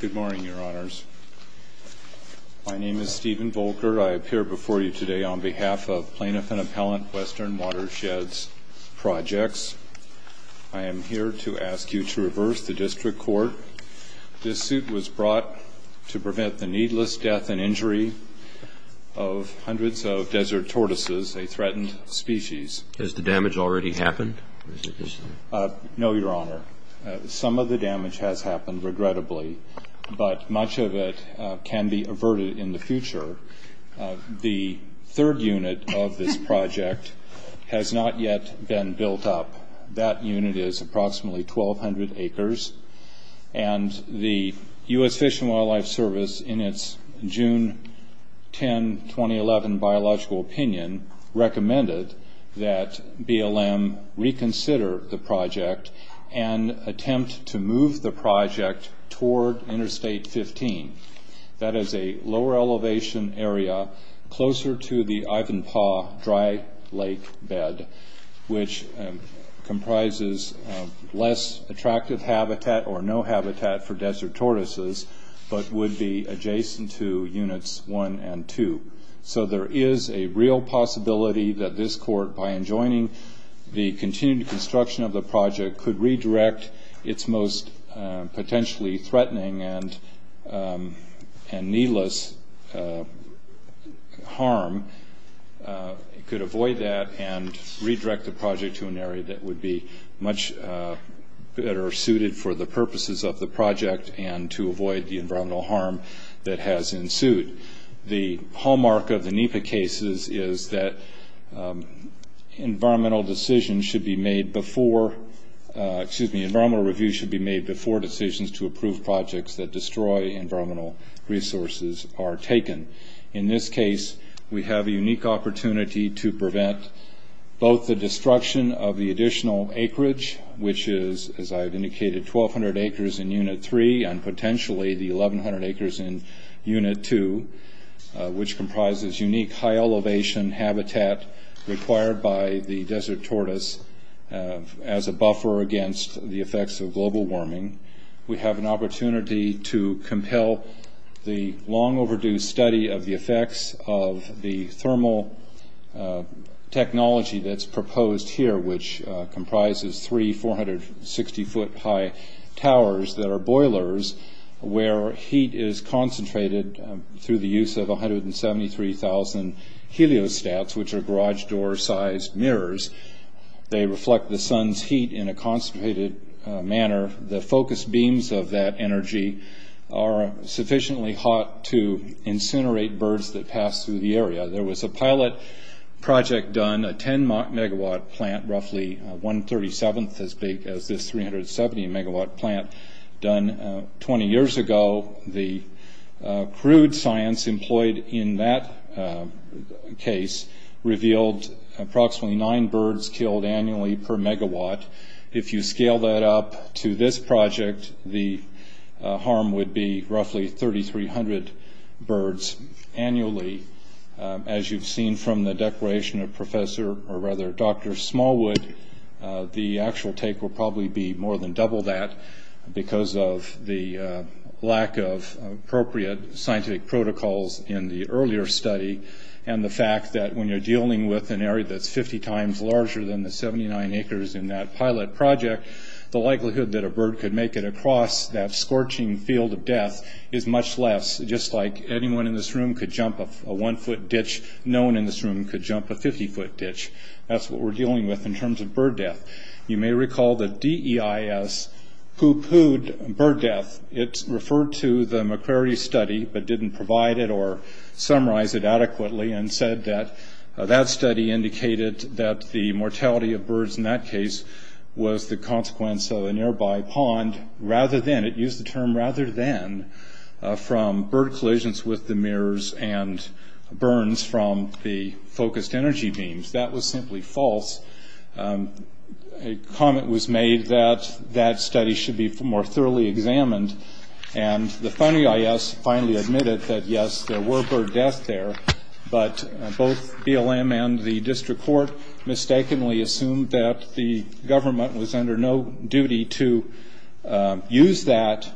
Good morning, your honors. My name is Stephen Volker. I appear before you today on behalf of Plaintiff and Appellant Western Watersheds Projects. I am here to ask you to reverse the district court. This suit was brought to prevent the needless death and injury of hundreds of desert tortoises, a threatened species. Has the damage already happened? No, your honor. Some of the damage has happened, regrettably. But much of it can be averted in the future. The third unit of this project has not yet been built up. That unit is approximately 1,200 acres. And the US Fish and Wildlife Service, in its June 10, 2011 biological opinion, recommended that BLM reconsider the project and attempt to move the project toward Interstate 15. That is a lower elevation area closer to the Ivanpah Dry Lake Bed, which comprises less attractive habitat or no habitat for desert tortoises, but would be adjacent to Units 1 and 2. So there is a real possibility that this court, by enjoining the continued construction of the project, could redirect its most potentially threatening and needless harm. It could avoid that and redirect the project to an area that would be much better suited for the purposes of the project and to avoid the environmental harm that has ensued. The hallmark of the NEPA cases is that environmental decisions should be made before, excuse me, environmental review should be made before decisions to approve projects that destroy environmental resources are taken. In this case, we have a unique opportunity to prevent both the destruction of the additional acreage, which is, as I've indicated, 1,200 acres in Unit 3, and potentially the 1,100 acres in Unit 2, which comprises unique high elevation habitat required by the desert tortoise as a buffer against the effects of global warming. We have an opportunity to compel the long overdue study of the effects of the thermal technology that's proposed here, which comprises three 460 foot high towers that are boilers where heat is concentrated through the use of 173,000 heliostats, which are garage door sized mirrors. They reflect the sun's heat in a concentrated manner. The focus beams of that energy are sufficiently hot to incinerate birds that pass through the area. There was a pilot project done, a 10 megawatt plant, roughly 1 37th as big as this 370 megawatt plant, done 20 years ago. The crude science employed in that case revealed approximately nine birds killed annually per megawatt. If you scale that up to this project, the harm would be roughly 3,300 birds annually. As you've seen from the declaration of Professor, or rather Dr. Smallwood, the actual take will probably be more than double that because of the lack of appropriate scientific protocols in the earlier study and the fact that when you're dealing with an area that's 50 times larger than the 79 acres in that pilot project, the likelihood that a bird could make it across that scorching field of death is much less. Just like anyone in this room could jump a one foot ditch, no one in this room could jump a 50 foot ditch. That's what we're dealing with in terms of bird death. You may recall the DEIS who pooed bird death. It referred to the McCrary study but didn't provide it or summarize it adequately and said that that study indicated that the mortality of birds in that case was the consequence of a nearby pond, rather than, it used the term rather than, from bird collisions with the mirrors and burns from the focused energy beams. That was simply false. A comment was made that that study should be more thoroughly examined. And the funding IS finally admitted that, yes, there were bird death there. But both BLM and the district court mistakenly assumed that the government was under no duty to use that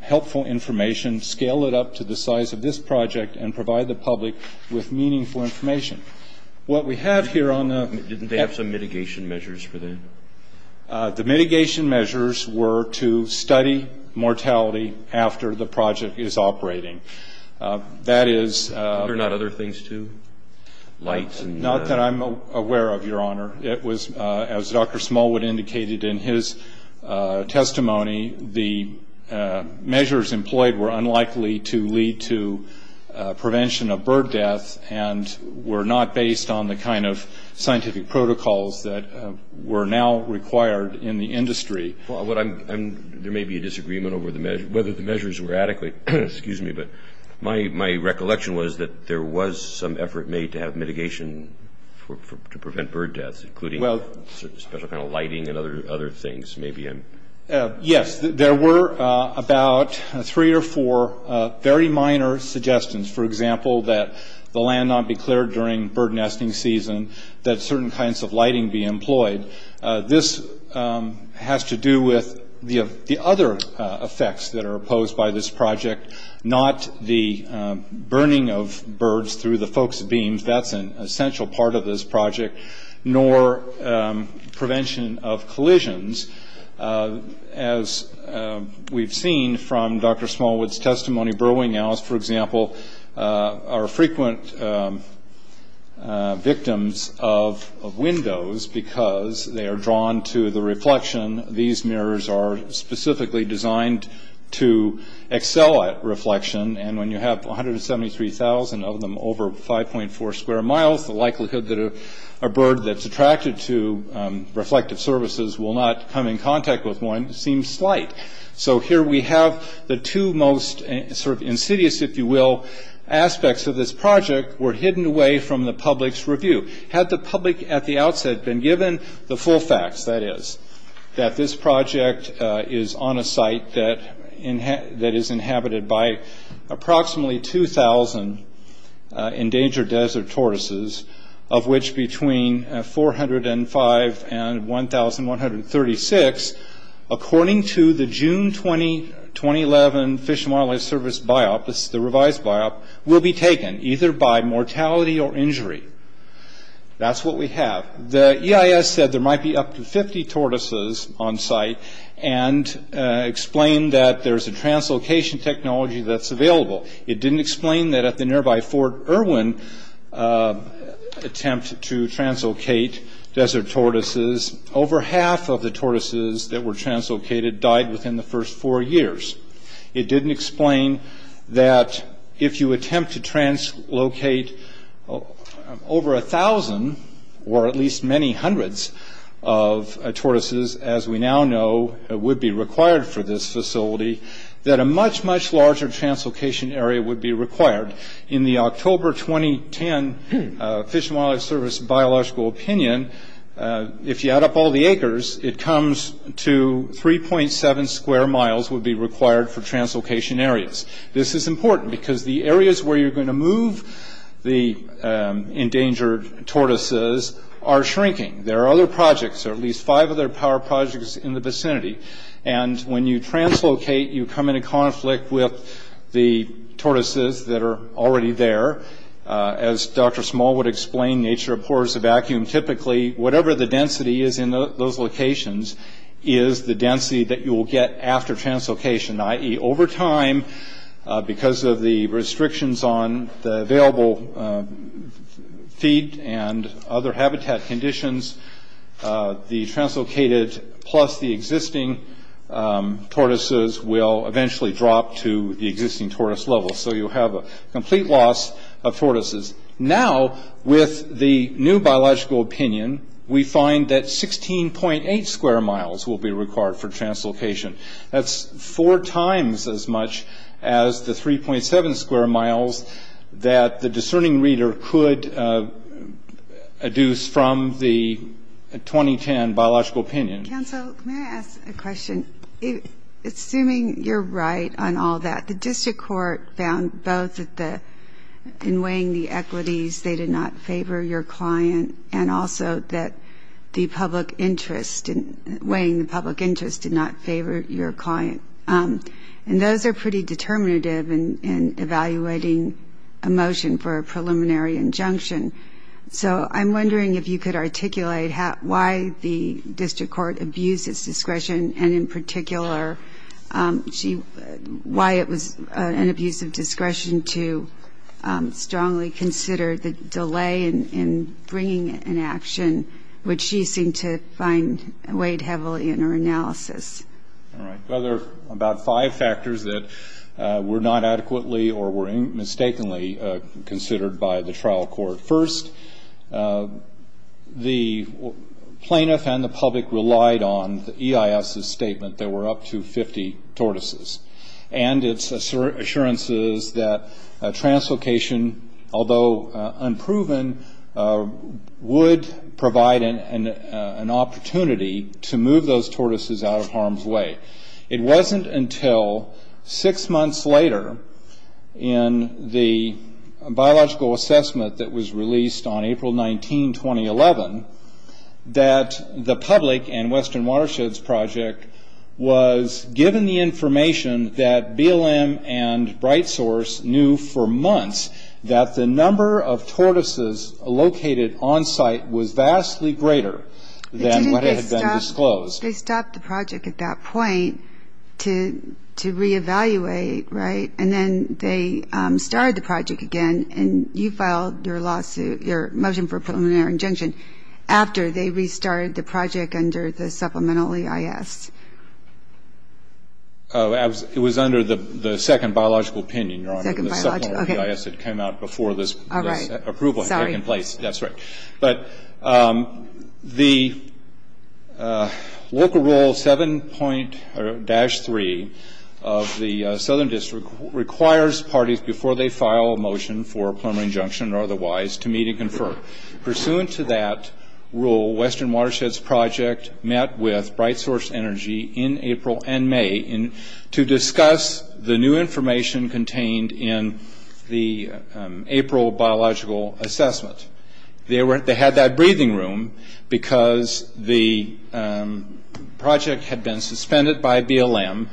helpful information, scale it up to the size of this project, and provide the public with meaningful information. What we have here on the- Didn't they have some mitigation measures for that? The mitigation measures were to study mortality after the project is operating. That is- Are there not other things too? Lights and- Not that I'm aware of, your honor. It was, as Dr. Smallwood indicated in his testimony, the measures employed were unlikely to lead to prevention of bird deaths, and were not based on the kind of scientific protocols that were now required in the industry. Well, there may be a disagreement over whether the measures were adequate, excuse me, but my recollection was that there was some effort made to have mitigation to prevent bird deaths, including special kind of lighting and other things. Maybe I'm- Yes, there were about three or four very minor suggestions. For example, that the land not be cleared during bird nesting season, that certain kinds of lighting be employed. This has to do with the other effects that are opposed by this project, not the burning of birds through the focus beams, that's an essential part of this project, nor prevention of collisions. As we've seen from Dr. Smallwood's testimony, burrowing owls, for example, are frequent victims of windows because they are drawn to the reflection. These mirrors are specifically designed to excel at reflection, and when you have 173,000 of them over 5.4 square miles, the likelihood that a bird that's attracted to reflective services will not come in contact with one seems slight. So here we have the two most insidious, if you will, aspects of this project were hidden away from the public's review. Had the public at the outset been given the full facts, that is, that this project is on a site that is inhabited by approximately 2,000 endangered desert tortoises, of which between 405 and 1,136, according to the June 20, 2011 Fish and Wildlife Service biop, this is the revised biop, will be taken either by mortality or injury. That's what we have. The EIS said there might be up to 50 tortoises on site and explained that there's a translocation technology that's available. It didn't explain that at the nearby Fort Irwin, attempt to translocate desert tortoises, over half of the tortoises that were translocated died within the first four years. It didn't explain that if you attempt to translocate over 1,000, or at least many hundreds of tortoises, as we now know, would be required for this facility, that a much, much larger translocation area would be required. In the October, 2010 Fish and Wildlife Service biological opinion, if you add up all the acres, it comes to 3.7 square miles would be required for translocation areas. This is important because the areas where you're going to move the endangered tortoises are shrinking. There are other projects, or at least five of their power projects in the vicinity. And when you translocate, you come into conflict with the tortoises that are already there. As Dr. Small would explain, nature abhors a vacuum. Typically, whatever the density is in those locations is the density that you will get after translocation, i.e. over time, because of the restrictions on the available feed and other habitat conditions, the translocated plus the existing tortoises will eventually drop to the existing tortoise level. So you'll have a complete loss of tortoises. Now, with the new biological opinion, we find that 16.8 square miles will be required for translocation. That's four times as much as the 3.7 square miles that the discerning reader could adduce from the 2010 biological opinion. Council, may I ask a question? Assuming you're right on all that, the district court found both in weighing the equities they did not favor your client, and also that weighing the public interest did not favor your client. And those are pretty determinative in evaluating a motion for a preliminary injunction. So I'm wondering if you could articulate why the district court abused its discretion, and in particular, why it was an abuse of discretion to strongly consider the delay in bringing an action, which she seemed to find weighed heavily in her analysis. All right, well, there are about five factors that were not adequately or were mistakenly considered by the trial court. First, the plaintiff and the public relied on the EIS's statement, there were up to 50 tortoises, and its assurances that translocation, although unproven, would provide an opportunity to move those tortoises out of harm's way. It wasn't until six months later in the biological assessment that was released on April 19, 2011, that the public and Western Watersheds Project was given the information that BLM and Bright Source knew for months that the number of tortoises located onsite was vastly greater than what had been disclosed. They stopped the project at that point to reevaluate, right? And then they started the project again, and you filed your motion for a preliminary injunction after they restarted the project under the supplemental EIS. It was under the second biological opinion, Your Honor. Second biological, okay. The supplemental EIS had come out before this approval had taken place. That's right. But the Local Rule 7.3 of the Southern District requires parties before they file a motion for a preliminary injunction or otherwise to meet and confer. Pursuant to that rule, Western Watersheds Project met with Bright Source Energy in April and May to discuss the new information contained in the April biological assessment. They had that breathing room because the project had been suspended by BLM.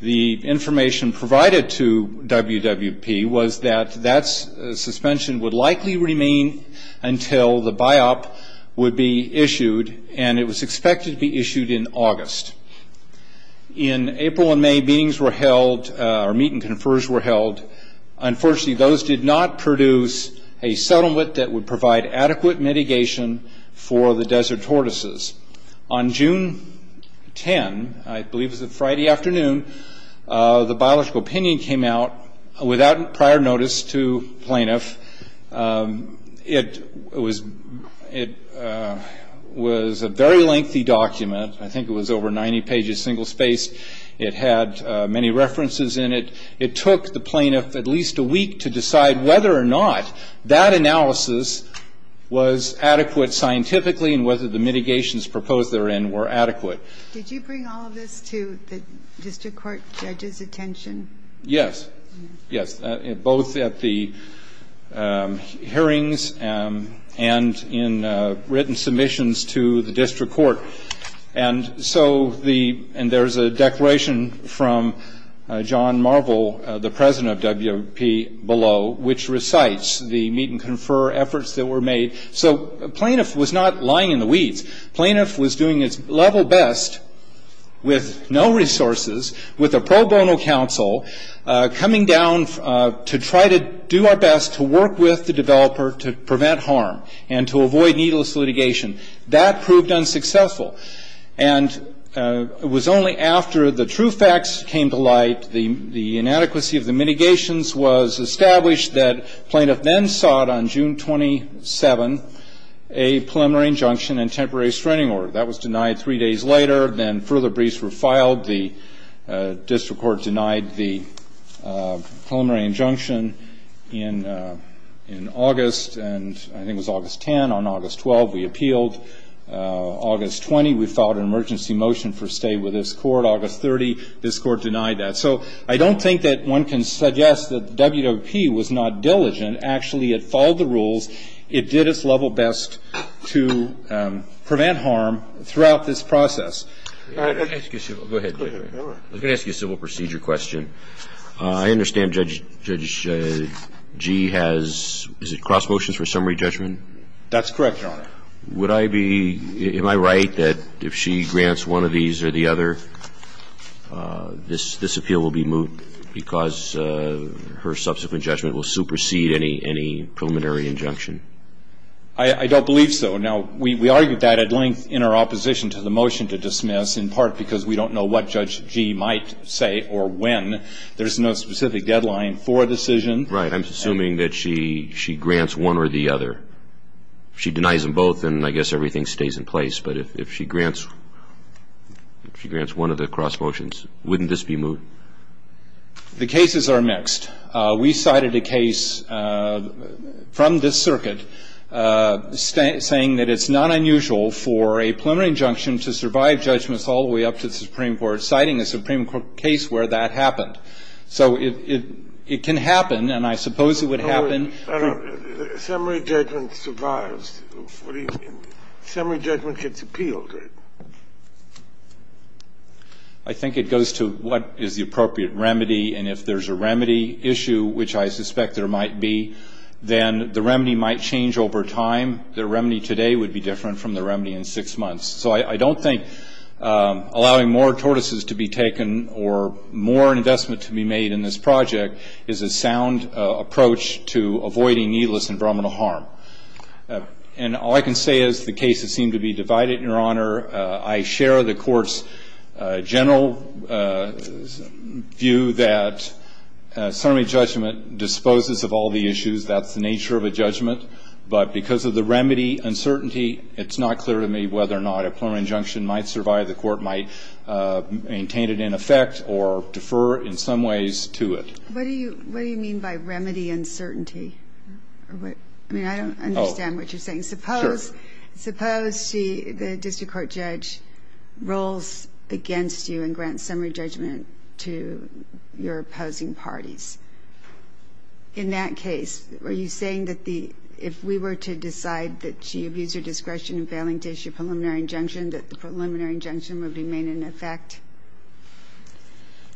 The information provided to WWP was that that suspension would likely remain until the biop would be issued, and it was expected to be issued in August. In April and May, meetings were held, or meet and confers were held. Unfortunately, those did not produce a settlement that would provide adequate mitigation for the desert tortoises. On June 10, I believe it was a Friday afternoon, the biological opinion came out without prior notice to plaintiff. It was a very lengthy document. I think it was over 90 pages, single-spaced. It had many references in it. It took the plaintiff at least a week to decide whether or not that analysis was adequate scientifically and whether the mitigations proposed therein were adequate. Did you bring all of this to the district court judge's attention? Yes, yes, both at the hearings and in written submissions to the district court. And so, and there's a declaration from John Marvel, the president of WWP below, which recites the meet and confer efforts that were made. So plaintiff was not lying in the weeds. Plaintiff was doing its level best with no resources, with a pro bono counsel coming down to try to do our best to work with the developer to prevent harm and to avoid needless litigation. That proved unsuccessful. And it was only after the true facts came to light, the inadequacy of the mitigations was established that plaintiff then sought on June 27, a preliminary injunction and temporary screening order. That was denied three days later. Then further briefs were filed. The district court denied the preliminary injunction in August, and I think it was August 10. On August 12, we appealed. August 20, we filed an emergency motion for stay with this court. August 30, this court denied that. So I don't think that one can suggest that the WWP was not diligent. Actually, it followed the rules. It did its level best to prevent harm throughout this process. I'm going to ask you a civil procedure question. I understand Judge Gee has, is it cross motions for summary judgment? That's correct, Your Honor. Would I be, am I right that if she grants one of these or the other, this appeal will be moved because her subsequent judgment will supersede any preliminary injunction? I don't believe so. Now, we argued that at length in our opposition to the motion to dismiss in part because we don't know what Judge Gee might say or when. There's no specific deadline for a decision. Right. I'm assuming that she grants one or the other. She denies them both, and I guess everything stays in place. But if she grants one of the cross motions, wouldn't this be moved? The cases are mixed. We cited a case from this circuit saying that it's not unusual for a preliminary injunction to survive judgments all the way up to the Supreme Court, citing a Supreme Court case where that happened. So it can happen, and I suppose it would happen. No, no. Summary judgment survives. What do you mean? Summary judgment gets appealed, right? I think it goes to what is the appropriate remedy, and if there's a remedy issue, which I suspect there might be, then the remedy might change over time. The remedy today would be different from the remedy in six months. So I don't think allowing more tortoises to be taken or more investment to be made in this project is a sound approach to avoiding needless environmental harm. And all I can say is the cases seem to be divided, Your Honor. I share the court's general view that summary judgment disposes of all the issues. That's the nature of a judgment. But because of the remedy uncertainty, it's not clear to me whether or not a preliminary injunction might survive. The court might maintain it in effect or defer in some ways to it. What do you mean by remedy uncertainty? I mean, I don't understand what you're saying. Suppose the district court judge rolls against you and grants summary judgment to your opposing parties. In that case, are you saying that if we were to decide that she abused her discretion in failing to issue a preliminary injunction, that the preliminary injunction would remain in effect?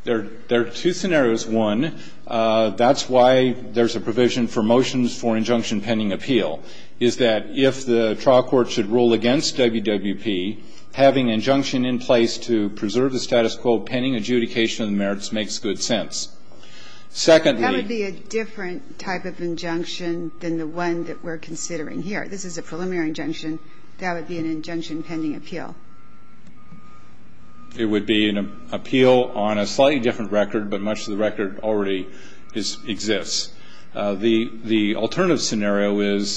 There are two scenarios. One, that's why there's a provision for motions for injunction pending appeal. Is that if the trial court should rule against WWP, having injunction in place to preserve the status quo pending adjudication of the merits makes good sense. Secondly. That would be a different type of injunction than the one that we're considering here. This is a preliminary injunction. That would be an injunction pending appeal. It would be an appeal on a slightly different record, but much of the record already exists. The alternative scenario is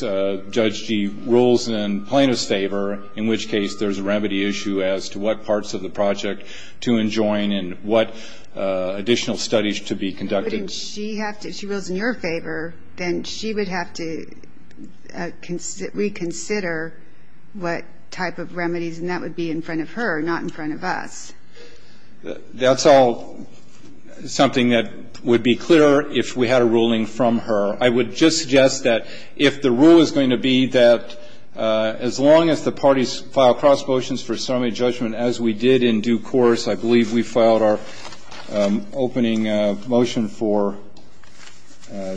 Judge Gee rules in plaintiff's favor, in which case there's a remedy issue as to what parts of the project to enjoin and what additional studies to be conducted. Wouldn't she have to, if she rules in your favor, then she would have to reconsider what type of remedies, and that would be in front of her, not in front of us. That's all something that would be clearer if we had a ruling from her. I would just suggest that if the rule is going to be that, as long as the parties file cross motions for summary judgment, as we did in due course, I believe we filed our opening motion for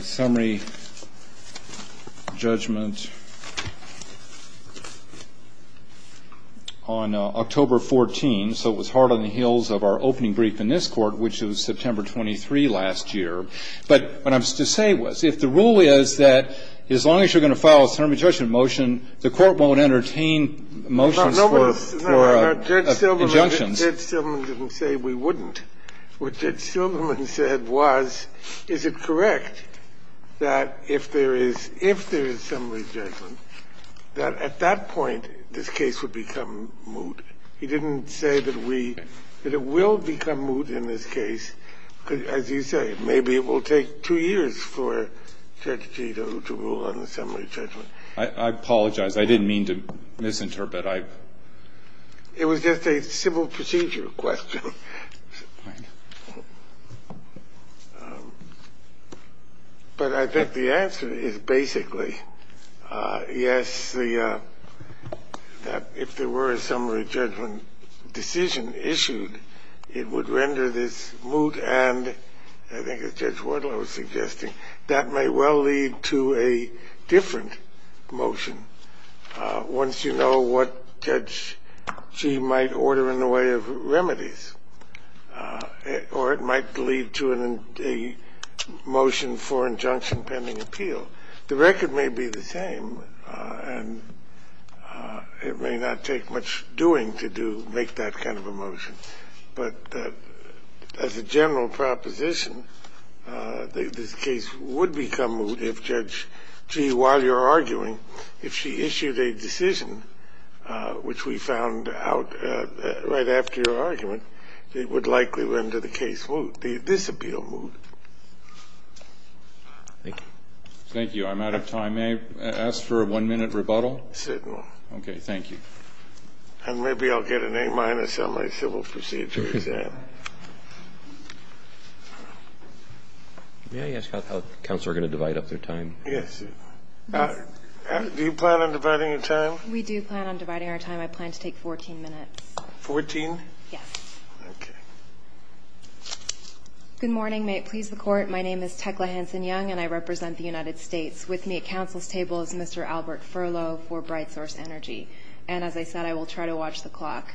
summary judgment on October 14. So it was hard on the heels of our opening brief in this Court, which was September 23 last year. But what I was to say was, if the rule is that, as long as you're going to file a summary judgment motion, the Court won't entertain motions for injunctions. Kennedy, Judge Silverman didn't say we wouldn't. What Judge Silverman said was, is it correct that if there is summary judgment, that at that point this case would become moot? He didn't say that we – that it will become moot in this case. As you say, maybe it will take two years for Judge Gito to rule on the summary judgment. I apologize. I didn't mean to misinterpret. I – It was just a civil procedure question. But I think the answer is basically, yes, the – that if there were a summary judgment decision issued, it would render this moot and, I think as Judge Wardlow was suggesting, that may well lead to a different motion once you know what Judge G. might order in the way of remedies, or it might lead to a motion for injunction pending appeal. So the record may be the same, and it may not take much doing to do – make that kind of a motion. But as a general proposition, this case would become moot if Judge G., while you're arguing, if she issued a decision which we found out right after your argument, it would likely render the case moot, the disappeal moot. Thank you. Thank you. I'm out of time. May I ask for a one-minute rebuttal? Certainly. Okay. Thank you. And maybe I'll get an A-minus on my civil procedure exam. May I ask how the counsel are going to divide up their time? Yes. Do you plan on dividing your time? We do plan on dividing our time. I plan to take 14 minutes. Fourteen? Yes. Okay. Good morning. May it please the Court. My name is Tekla Hanson-Young, and I represent the United States. With me at counsel's table is Mr. Albert Furlow for Bright Source Energy. And as I said, I will try to watch the clock.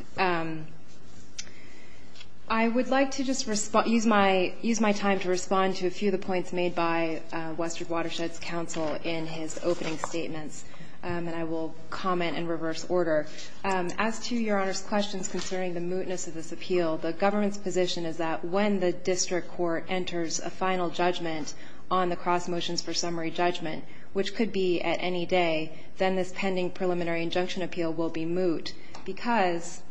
I would like to just use my time to respond to a few of the points made by Western Watershed's counsel in his opening statements, and I will comment in reverse order. As to Your Honor's questions concerning the mootness of this appeal, the government's that when the district court enters a final judgment on the cross motions for summary judgment, which could be at any day, then this pending preliminary injunction appeal will be moot, because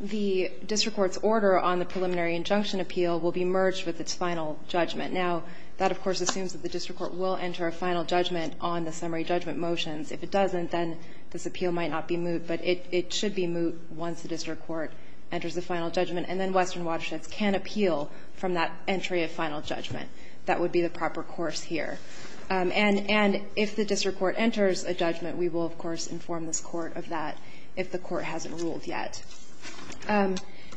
the district court's order on the preliminary injunction appeal will be merged with its final judgment. Now, that of course assumes that the district court will enter a final judgment on the summary judgment motions. If it doesn't, then this appeal might not be moot, but it should be moot once the district court enters a final judgment, and then Western Watersheds can appeal from that entry of final judgment. That would be the proper course here. And if the district court enters a judgment, we will of course inform this Court of that if the Court hasn't ruled yet.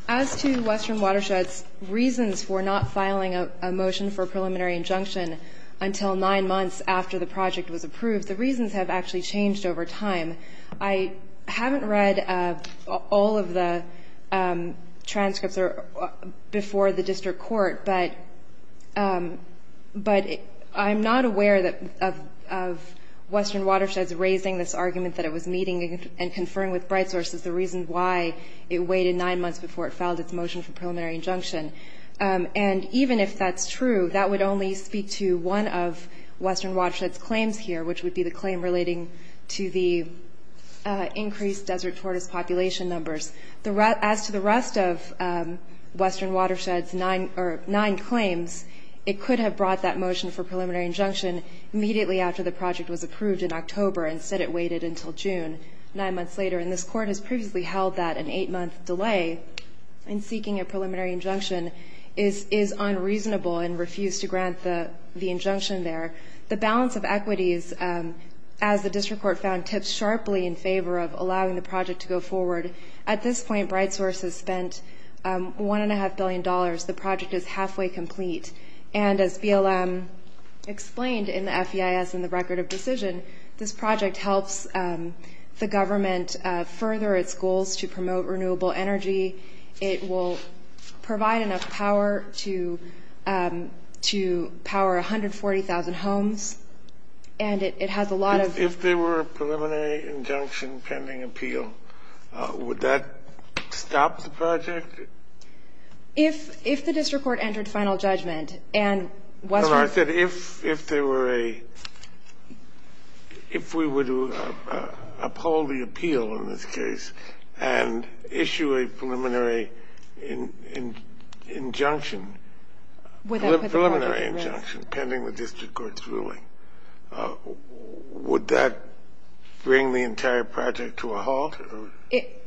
As to Western Watersheds' reasons for not filing a motion for a preliminary injunction until nine months after the project was approved, the reasons have actually changed over time. I haven't read all of the transcripts before the district court, but I'm not aware of Western Watersheds raising this argument that it was meeting and conferring with Bright Source as the reason why it waited nine months before it filed its motion for preliminary injunction. And even if that's true, that would only speak to one of Western Watersheds' claims here, which would be the claim relating to the increased desert tortoise population numbers. As to the rest of Western Watersheds' nine claims, it could have brought that motion for preliminary injunction immediately after the project was approved in October. Instead, it waited until June, nine months later. And this Court has previously held that an eight-month delay in seeking a preliminary injunction is unreasonable and refused to grant the injunction there. The balance of equities, as the district court found, tips sharply in favor of allowing the project to go forward. At this point, Bright Source has spent $1.5 billion. The project is halfway complete. And as BLM explained in the FEIS in the Record of Decision, this project helps the government further its goals to promote renewable energy. It will provide enough power to power 140,000 homes. And it has a lot of ---- If there were a preliminary injunction pending appeal, would that stop the project? If the district court entered final judgment and Western ---- No, I said if there were a ---- if we were to uphold the appeal in this case and issue a preliminary injunction, preliminary injunction pending the district court's ruling, would that bring the entire project to a halt? It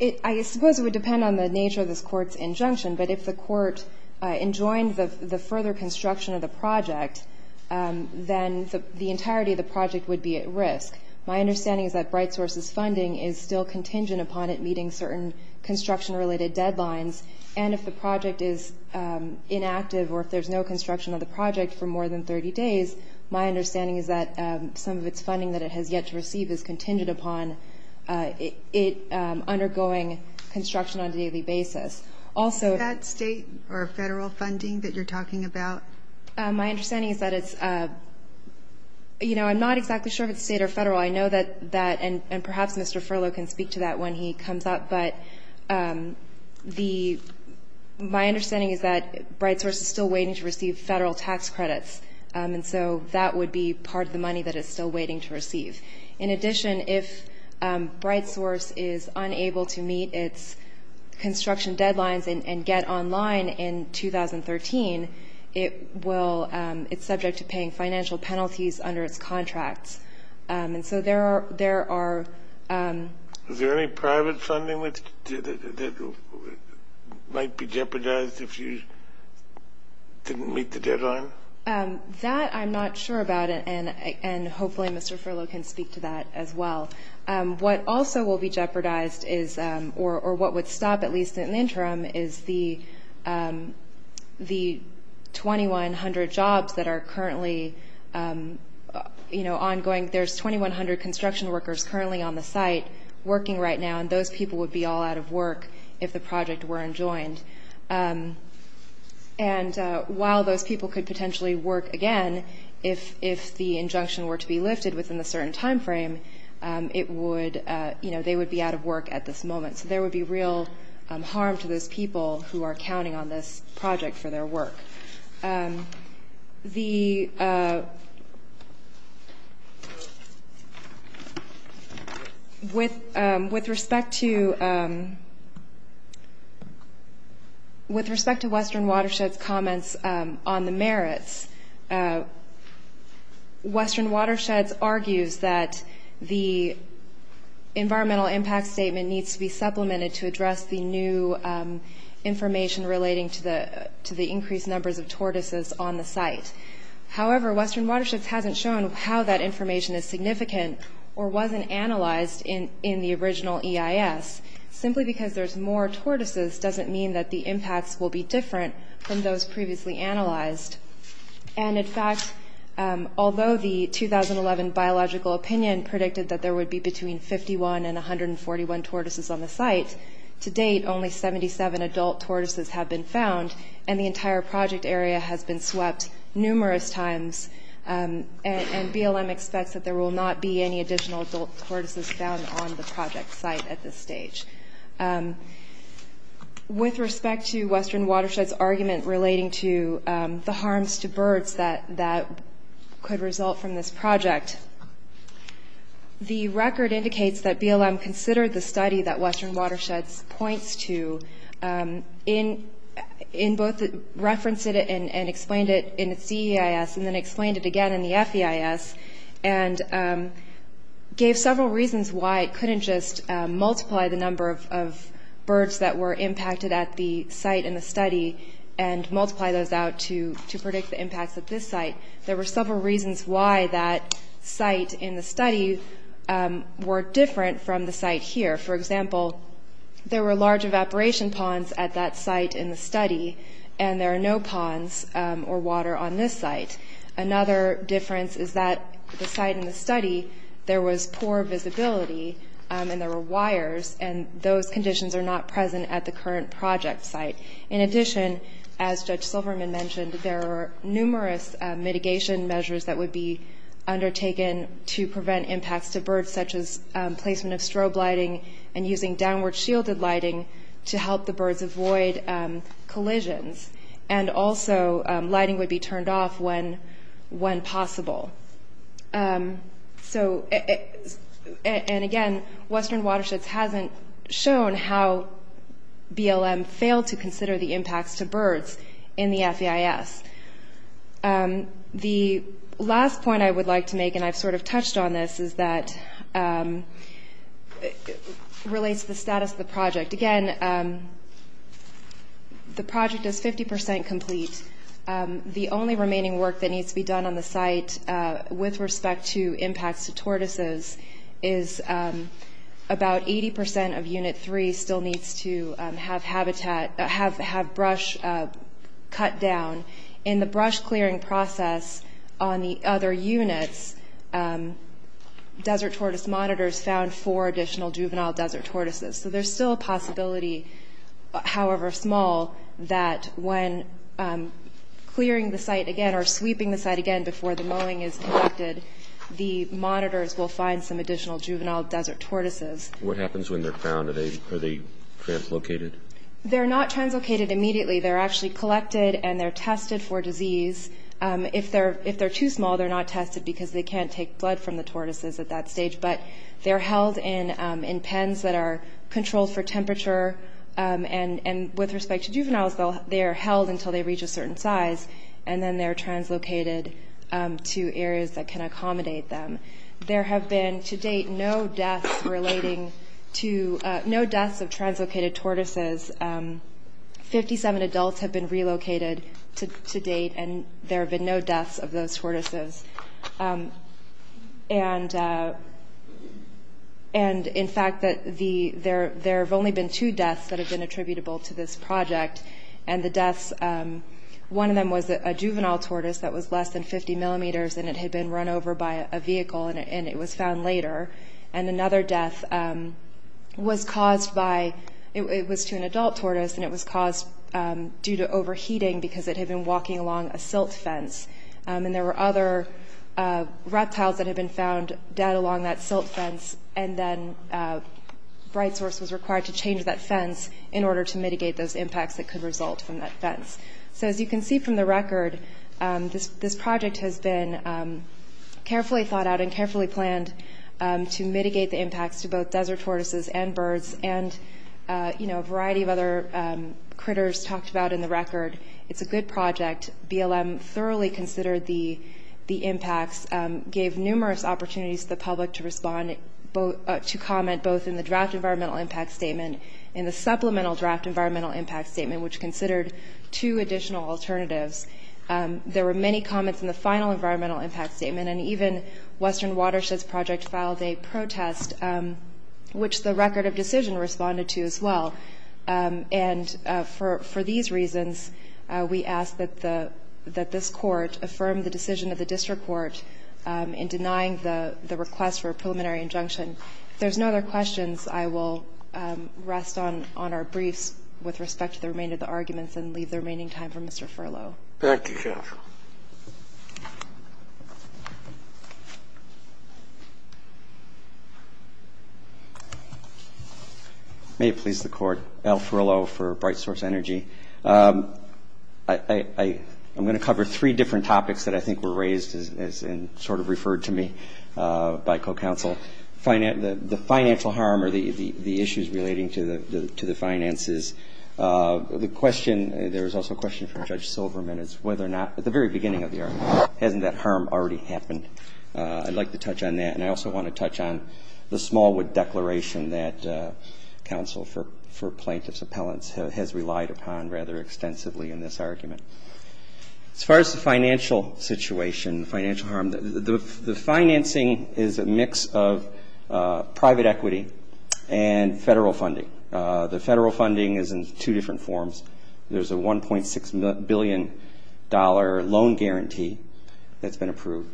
---- I suppose it would depend on the nature of this Court's injunction. But if the Court enjoined the further construction of the project, then the entirety of the project would be at risk. My understanding is that Bright Source's funding is still contingent upon it meeting certain construction-related deadlines. And if the project is inactive or if there's no construction of the project for more than 30 days, my understanding is that some of its funding that it has yet to receive is contingent upon it undergoing construction on a daily basis. Also ---- Is that state or federal funding that you're talking about? My understanding is that it's ---- you know, I'm not exactly sure if it's state or federal. I know that that ---- and perhaps Mr. Furlow can speak to that when he comes up. But the ---- my understanding is that Bright Source is still waiting to receive federal tax credits. And so that would be part of the money that it's still waiting to receive. In addition, if Bright Source is unable to meet its construction deadlines and get online in 2013, it will ---- it's subject to paying financial penalties under its contracts. And so there are ---- Is there any private funding that might be jeopardized if you didn't meet the deadline? That I'm not sure about, and hopefully Mr. Furlow can speak to that as well. What also will be jeopardized is or what would stop, at least in the interim, is the 2,100 jobs that are currently, you know, ongoing. There's 2,100 construction workers currently on the site working right now, and those people would be all out of work if the project weren't joined. And while those people could potentially work again, if the injunction were to be lifted within a certain time frame, it would ---- you know, they would be out of work at this moment. So there would be real harm to those people who are counting on this project for their work. The ---- With respect to Western Watersheds' comments on the merits, Western Watersheds argues that the environmental impact statement needs to be supplemented to address the new information relating to the increased numbers of tortoises on the site. However, Western Watersheds hasn't shown how that information is significant or wasn't analyzed in the original EIS. Simply because there's more tortoises doesn't mean that the impacts will be different from those previously analyzed. And in fact, although the 2011 biological opinion predicted that there would be between 51 and 141 tortoises on the site, to date only 77 adult tortoises have been found, and the entire project area has been swept numerous times, and BLM expects that there will not be any additional adult tortoises found on the project site at this stage. With respect to Western Watersheds' argument relating to the harms to birds that could result from this project, the record indicates that BLM considered the study that Western Watersheds points to in both the reference and explained it in the CEIS and then explained it again in the FEIS, and gave several reasons why it couldn't just multiply the number of birds that were impacted at the site in the study and multiply those out to predict the impacts at this site. There were several reasons why that site in the study were different from the site here. For example, there were large evaporation ponds at that site in the study, and there are no ponds or water on this site. Another difference is that the site in the study, there was poor visibility and there were wires, and those conditions are not present at the current project site. In addition, as Judge Silverman mentioned, there are numerous mitigation measures that would be undertaken to prevent impacts to birds, such as placement of strobe lighting and using downward shielded lighting to help the birds avoid collisions, and also lighting would be turned off when possible. So, and again, Western Watersheds hasn't shown how BLM failed to consider the impacts to birds in the FEIS. The last point I would like to make, and I've sort of touched on this, is that it relates to the status of the project. Again, the project is 50% complete. The only remaining work that needs to be done on the site with respect to impacts to tortoises is about 80% of Unit 3 still needs to have brush cut down. In the brush clearing process on the other units, desert tortoise monitors found four additional juvenile desert tortoises. So there's still a possibility, however small, that when clearing the site again or sweeping the site again before the mowing is completed, the monitors will find some additional juvenile desert tortoises. What happens when they're found? Are they translocated? They're not translocated immediately. They're actually collected and they're tested for disease. If they're too small, they're not tested because they can't take blood from the tortoises at that stage, but they're held in pens that are controlled for temperature. With respect to juveniles, they are held until they reach a certain size, and then they're translocated to areas that can accommodate them. There have been, to date, no deaths of translocated tortoises. Fifty-seven adults have been relocated to date, and there have been no deaths of those tortoises. And, in fact, there have only been two deaths that have been attributable to this project. And the deaths, one of them was a juvenile tortoise that was less than 50 millimeters and it had been run over by a vehicle and it was found later. And another death was caused by, it was to an adult tortoise, and it was caused due to overheating because it had been walking along a silt fence. And there were other reptiles that had been found dead along that silt fence, and then Bright Source was required to change that fence in order to mitigate those impacts that could result from that fence. So as you can see from the record, this project has been carefully thought out and carefully planned to mitigate the impacts to both desert tortoises and birds and, you know, a variety of other critters talked about in the record. It's a good project. BLM thoroughly considered the impacts, gave numerous opportunities to the public to respond, to comment both in the draft environmental impact statement and the supplemental draft environmental impact statement, which considered two additional alternatives. There were many comments in the final environmental impact statement, and even Western Watersheds Project filed a protest, which the record of decision responded to as well. And for these reasons, we ask that the this Court affirm the decision of the district court in denying the request for a preliminary injunction. If there's no other questions, I will rest on our briefs with respect to the remainder of the arguments and leave the remaining time for Mr. Furlow. Thank you, Your Honor. May it please the Court. Al Furlow for Bright Source Energy. I'm going to cover three different topics that I think were raised and sort of referred to me by co-counsel. The financial harm or the issues relating to the finances. The question, there was also a question from Judge Silverman as to whether or not, at the very beginning of the argument, hasn't that harm already happened? I'd like to touch on that, and I also want to touch on the Smallwood Declaration that counsel for plaintiff's appellants has relied upon rather extensively in this argument. As far as the financial situation, financial harm, the financing is a mix of private equity and federal funding. The federal funding is in two different forms. There's a $1.6 billion loan guarantee that's been approved.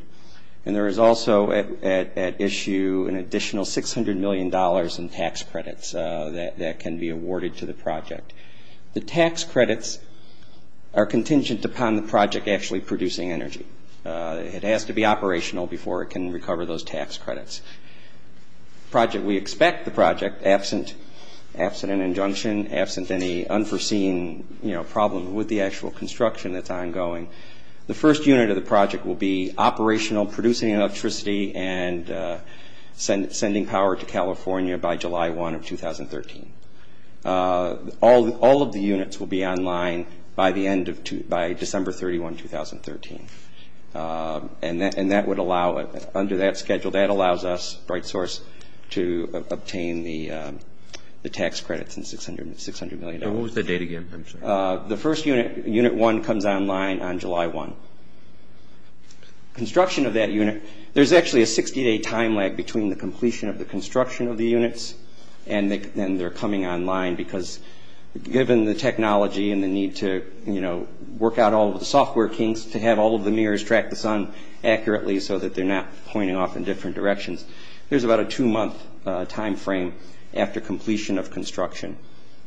And there is also at issue an additional $600 million in tax credits that can be awarded to the project. The tax credits are contingent upon the project actually producing energy. It has to be operational before it can recover those tax credits. We expect the project, absent an injunction, absent any unforeseen problem with the actual operational, producing electricity, and sending power to California by July 1 of 2013. All of the units will be online by December 31, 2013. And that would allow, under that schedule, that allows us, Bright Source, to obtain the tax credits in $600 million. What was the date again, I'm sorry? The first unit, Unit 1, comes online on July 1. Construction of that unit, there's actually a 60-day time lag between the completion of the construction of the units and then they're coming online because given the technology and the need to work out all of the software kinks, to have all of the mirrors track the sun accurately so that they're not pointing off in different directions, there's about a two-month time frame after completion of construction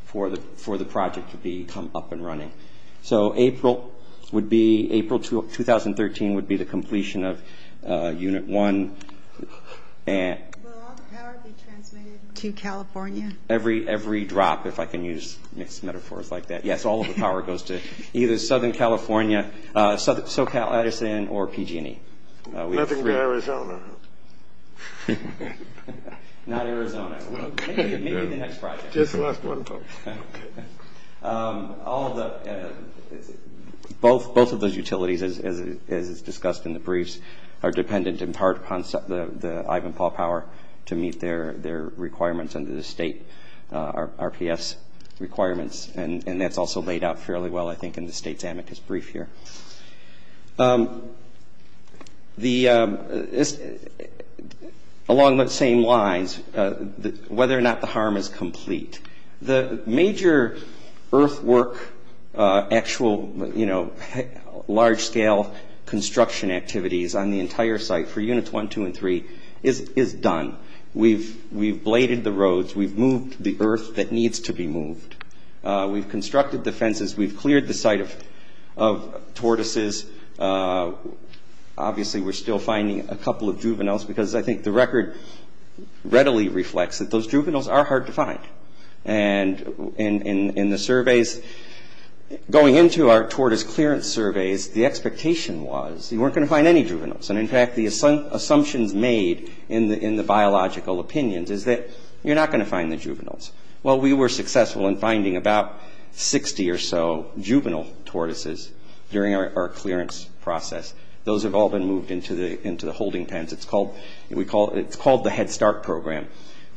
for the project to be come up and running. So April would be, April 2013 would be the completion of Unit 1. Will all the power be transmitted to California? Every drop, if I can use mixed metaphors like that. Yes, all of the power goes to either Southern California, SoCal Edison, or PG&E. Nothing to Arizona, huh? Not Arizona. Maybe the next project. Just the last one. Both of those utilities, as is discussed in the briefs, are dependent in part upon the Ivanpah power to meet their requirements under the state RPS requirements. And that's also laid out fairly well, I think, in the state's amicus brief here. Along those same lines, whether or not the harm is complete. The major earthwork, actual large-scale construction activities on the entire site for Units 1, 2, and 3 is done. We've bladed the roads. We've moved the earth that needs to be moved. We've constructed the fences. We've cleared the site of tortoises. Obviously, we're still finding a couple of juveniles because I think the record readily reflects that those juveniles are hard to find. And in the surveys, going into our tortoise clearance surveys, the expectation was you weren't going to find any juveniles. And in fact, the assumptions made in the biological opinions is that you're not going to find the juveniles. Well, we were successful in finding about 60 or so juvenile tortoises during our clearance process. Those have all been moved into the holding pens. It's called the Head Start program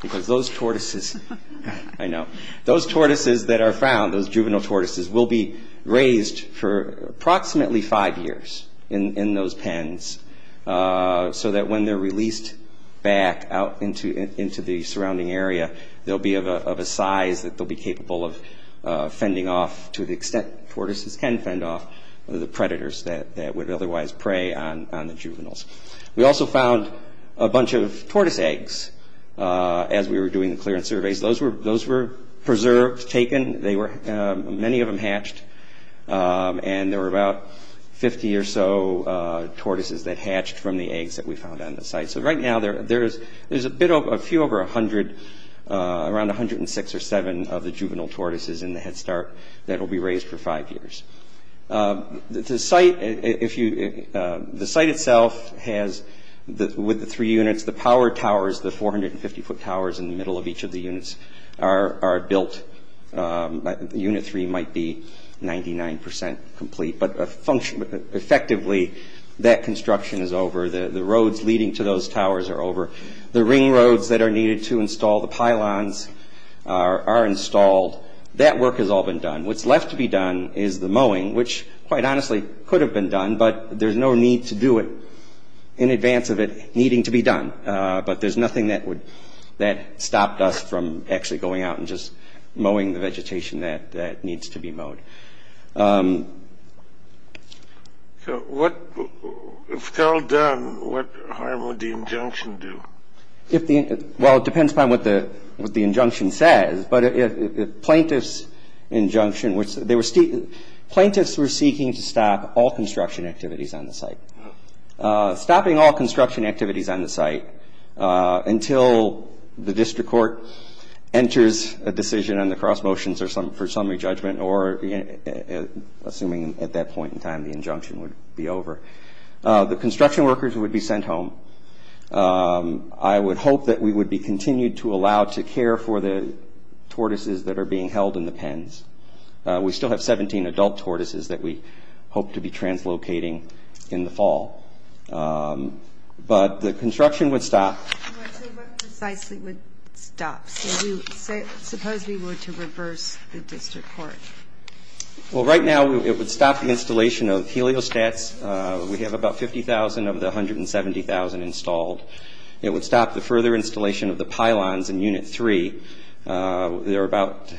because those tortoises that are found, those juvenile tortoises, will be raised for approximately five years in those pens so that when they're released back out into the surrounding area, they'll be of a size that they'll be capable of fending off to the extent tortoises can fend off the predators that would otherwise prey on the juveniles. We also found a bunch of tortoise eggs as we were doing the clearance surveys. Those were preserved, taken. Many of them hatched, and there were about 50 or so tortoises that hatched from the eggs that we found on the site. So right now, there's a few over 100, around 106 or 107 of the juvenile tortoises in the Head Start that will be raised for five years. The site itself has, with the three units, the power towers, the 450-foot towers in the middle of each of the units, are built. Unit three might be 99 percent complete, but effectively, that construction is over. The roads leading to those towers are over. The ring roads that are needed to install the pylons are installed. That work has all been done. What's left to be done is the mowing, which, quite honestly, could have been done, but there's no need to do it in advance of it needing to be done. But there's nothing that stopped us from actually going out and just mowing the vegetation that needs to be mowed. If it's all done, what harm would the injunction do? Well, it depends upon what the injunction says, but plaintiff's injunction, plaintiffs were seeking to stop all construction activities on the site. Stopping all construction activities on the site until the district court enters a decision on the cross motions for summary judgment or, assuming at that point in time, the injunction would be over. The construction workers would be sent home. I would hope that we would be continued to allow to care for the tortoises that are being held in the pens. We still have 17 adult tortoises that we hope to be translocating in the fall. But the construction would stop. What precisely would stop? Suppose we were to reverse the district court. Well, right now it would stop the installation of heliostats. We have about 50,000 of the 170,000 installed. It would stop the further installation of the pylons in Unit 3. There are about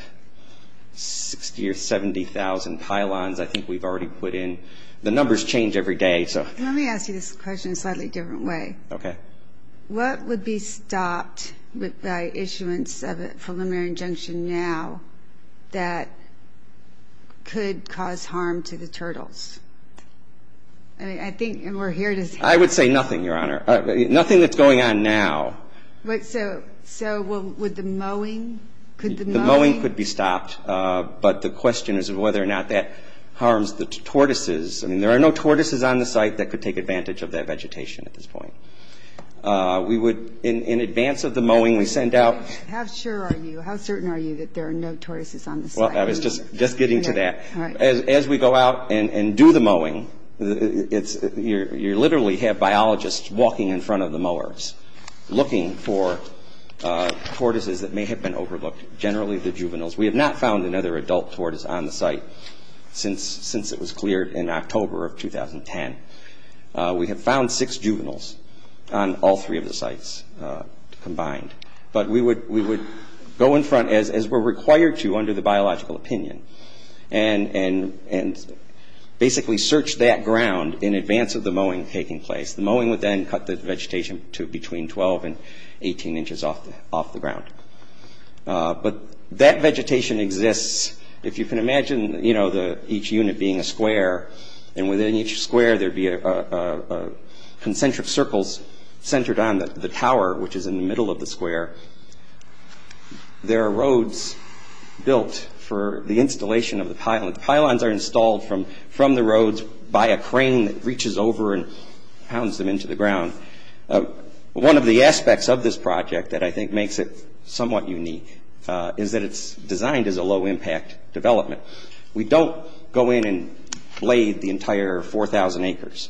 60,000 or 70,000 pylons I think we've already put in. The numbers change every day. Let me ask you this question in a slightly different way. Okay. What would be stopped by issuance of a preliminary injunction now that could cause harm to the turtles? I think we're here to see. I would say nothing, Your Honor. Nothing that's going on now. So would the mowing? The mowing could be stopped, but the question is whether or not that harms the tortoises. I mean there are no tortoises on the site that could take advantage of that vegetation at this point. We would, in advance of the mowing, we send out. How sure are you, how certain are you that there are no tortoises on the site? Well, I was just getting to that. As we go out and do the mowing, you literally have biologists walking in front of the mowers looking for tortoises that may have been overlooked, generally the juveniles. We have not found another adult tortoise on the site since it was cleared in October of 2010. We have found six juveniles on all three of the sites combined. But we would go in front as we're required to under the biological opinion and basically search that ground in advance of the mowing taking place. The mowing would then cut the vegetation to between 12 and 18 inches off the ground. But that vegetation exists. If you can imagine each unit being a square, and within each square there would be concentric circles centered on the tower, which is in the middle of the square. There are roads built for the installation of the pylons. The pylons are installed from the roads by a crane that reaches over and pounds them into the ground. One of the aspects of this project that I think makes it somewhat unique is that it's designed as a low-impact development. We don't go in and blade the entire 4,000 acres.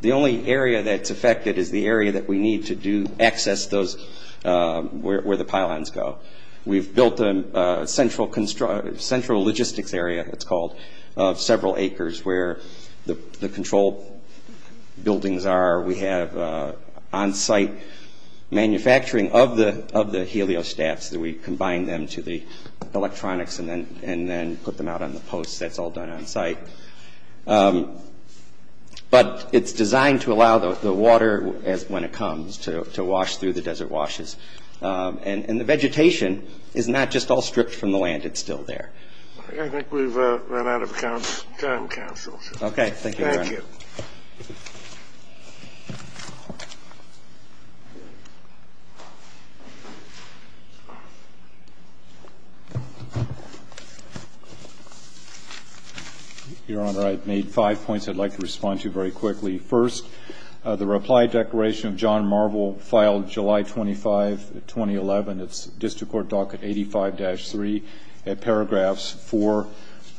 The only area that's affected is the area that we need to access where the pylons go. We've built a central logistics area, it's called, of several acres where the control buildings are. We have on-site manufacturing of the heliostats. We combine them to the electronics and then put them out on the posts. That's all done on-site. But it's designed to allow the water, when it comes, to wash through the desert washes. And the vegetation is not just all stripped from the land, it's still there. I think we've run out of time, Counsel. Thank you. Your Honor, I've made five points I'd like to respond to very quickly. First, the reply declaration of John Marvel, filed July 25, 2011. It's District Court Docket 85-3. Paragraphs 4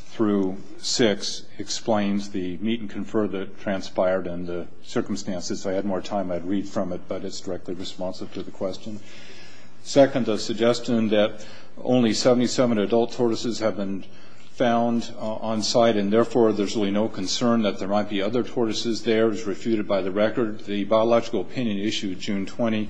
through 6 explains the meet and confer that transpired and the circumstances. If I had more time, I'd read from it, but it's directly responsive to the question. Second, the suggestion that only 77 adult tortoises have been found on-site and, therefore, there's really no concern that there might be other tortoises there is refuted by the record. The biological opinion issued June 10,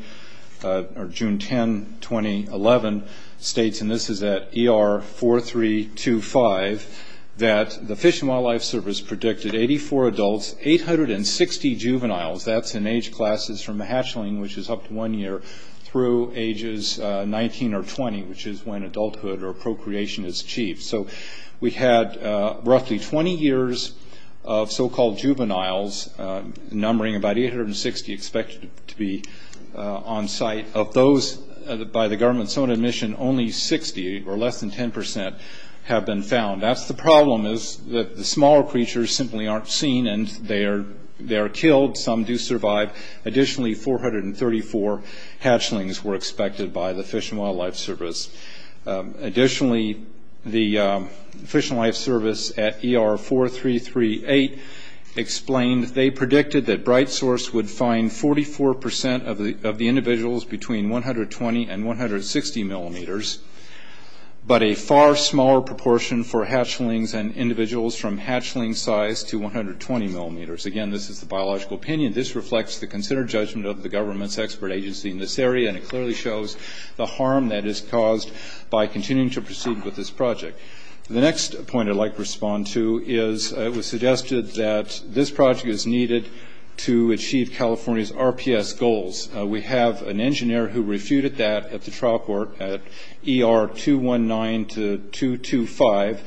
2011 states, and this is at ER 4325, that the Fish and Wildlife Service predicted 84 adults, 860 juveniles. That's in age classes from hatchling, which is up to one year, through ages 19 or 20, which is when adulthood or procreation is achieved. So we had roughly 20 years of so-called juveniles, numbering about 860 expected to be on-site. Of those by the government's own admission, only 60, or less than 10%, have been found. The problem is that the smaller creatures simply aren't seen, and they are killed. Some do survive. Additionally, 434 hatchlings were expected by the Fish and Wildlife Service. Additionally, the Fish and Wildlife Service at ER 4338 explained they predicted that BrightSource would find 44% of the individuals between 120 and 160 millimeters, but a far smaller proportion for hatchlings and individuals from hatchling size to 120 millimeters. Again, this is the biological opinion. This reflects the considered judgment of the government's expert agency in this area, and it clearly shows the harm that is caused by continuing to proceed with this project. The next point I'd like to respond to is it was suggested that this project is needed to achieve California's RPS goals. We have an engineer who refuted that at the trial court at ER 219 to 225.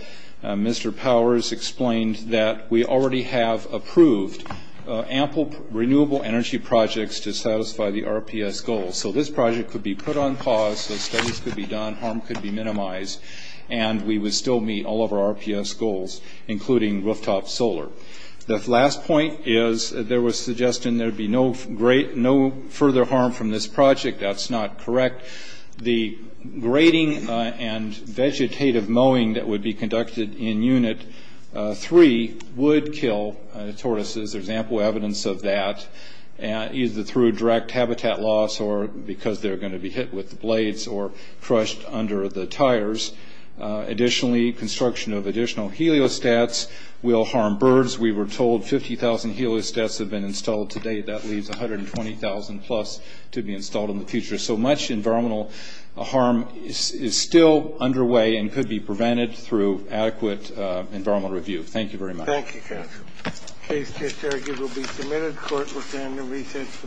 Mr. Powers explained that we already have approved ample renewable energy projects to satisfy the RPS goals. So this project could be put on pause. The studies could be done. Harm could be minimized, and we would still meet all of our RPS goals, including rooftop solar. The last point is there was suggestion there would be no further harm from this project. That's not correct. The grading and vegetative mowing that would be conducted in Unit 3 would kill tortoises. There's ample evidence of that, either through direct habitat loss or because they're going to be hit with the blades or crushed under the tires. Additionally, construction of additional heliostats will harm birds. We were told 50,000 heliostats have been installed today. That leaves 120,000-plus to be installed in the future. So much environmental harm is still underway and could be prevented through adequate environmental review. Thank you very much. Thank you, counsel. Case to argue will be submitted. Court will stand to recess for the day.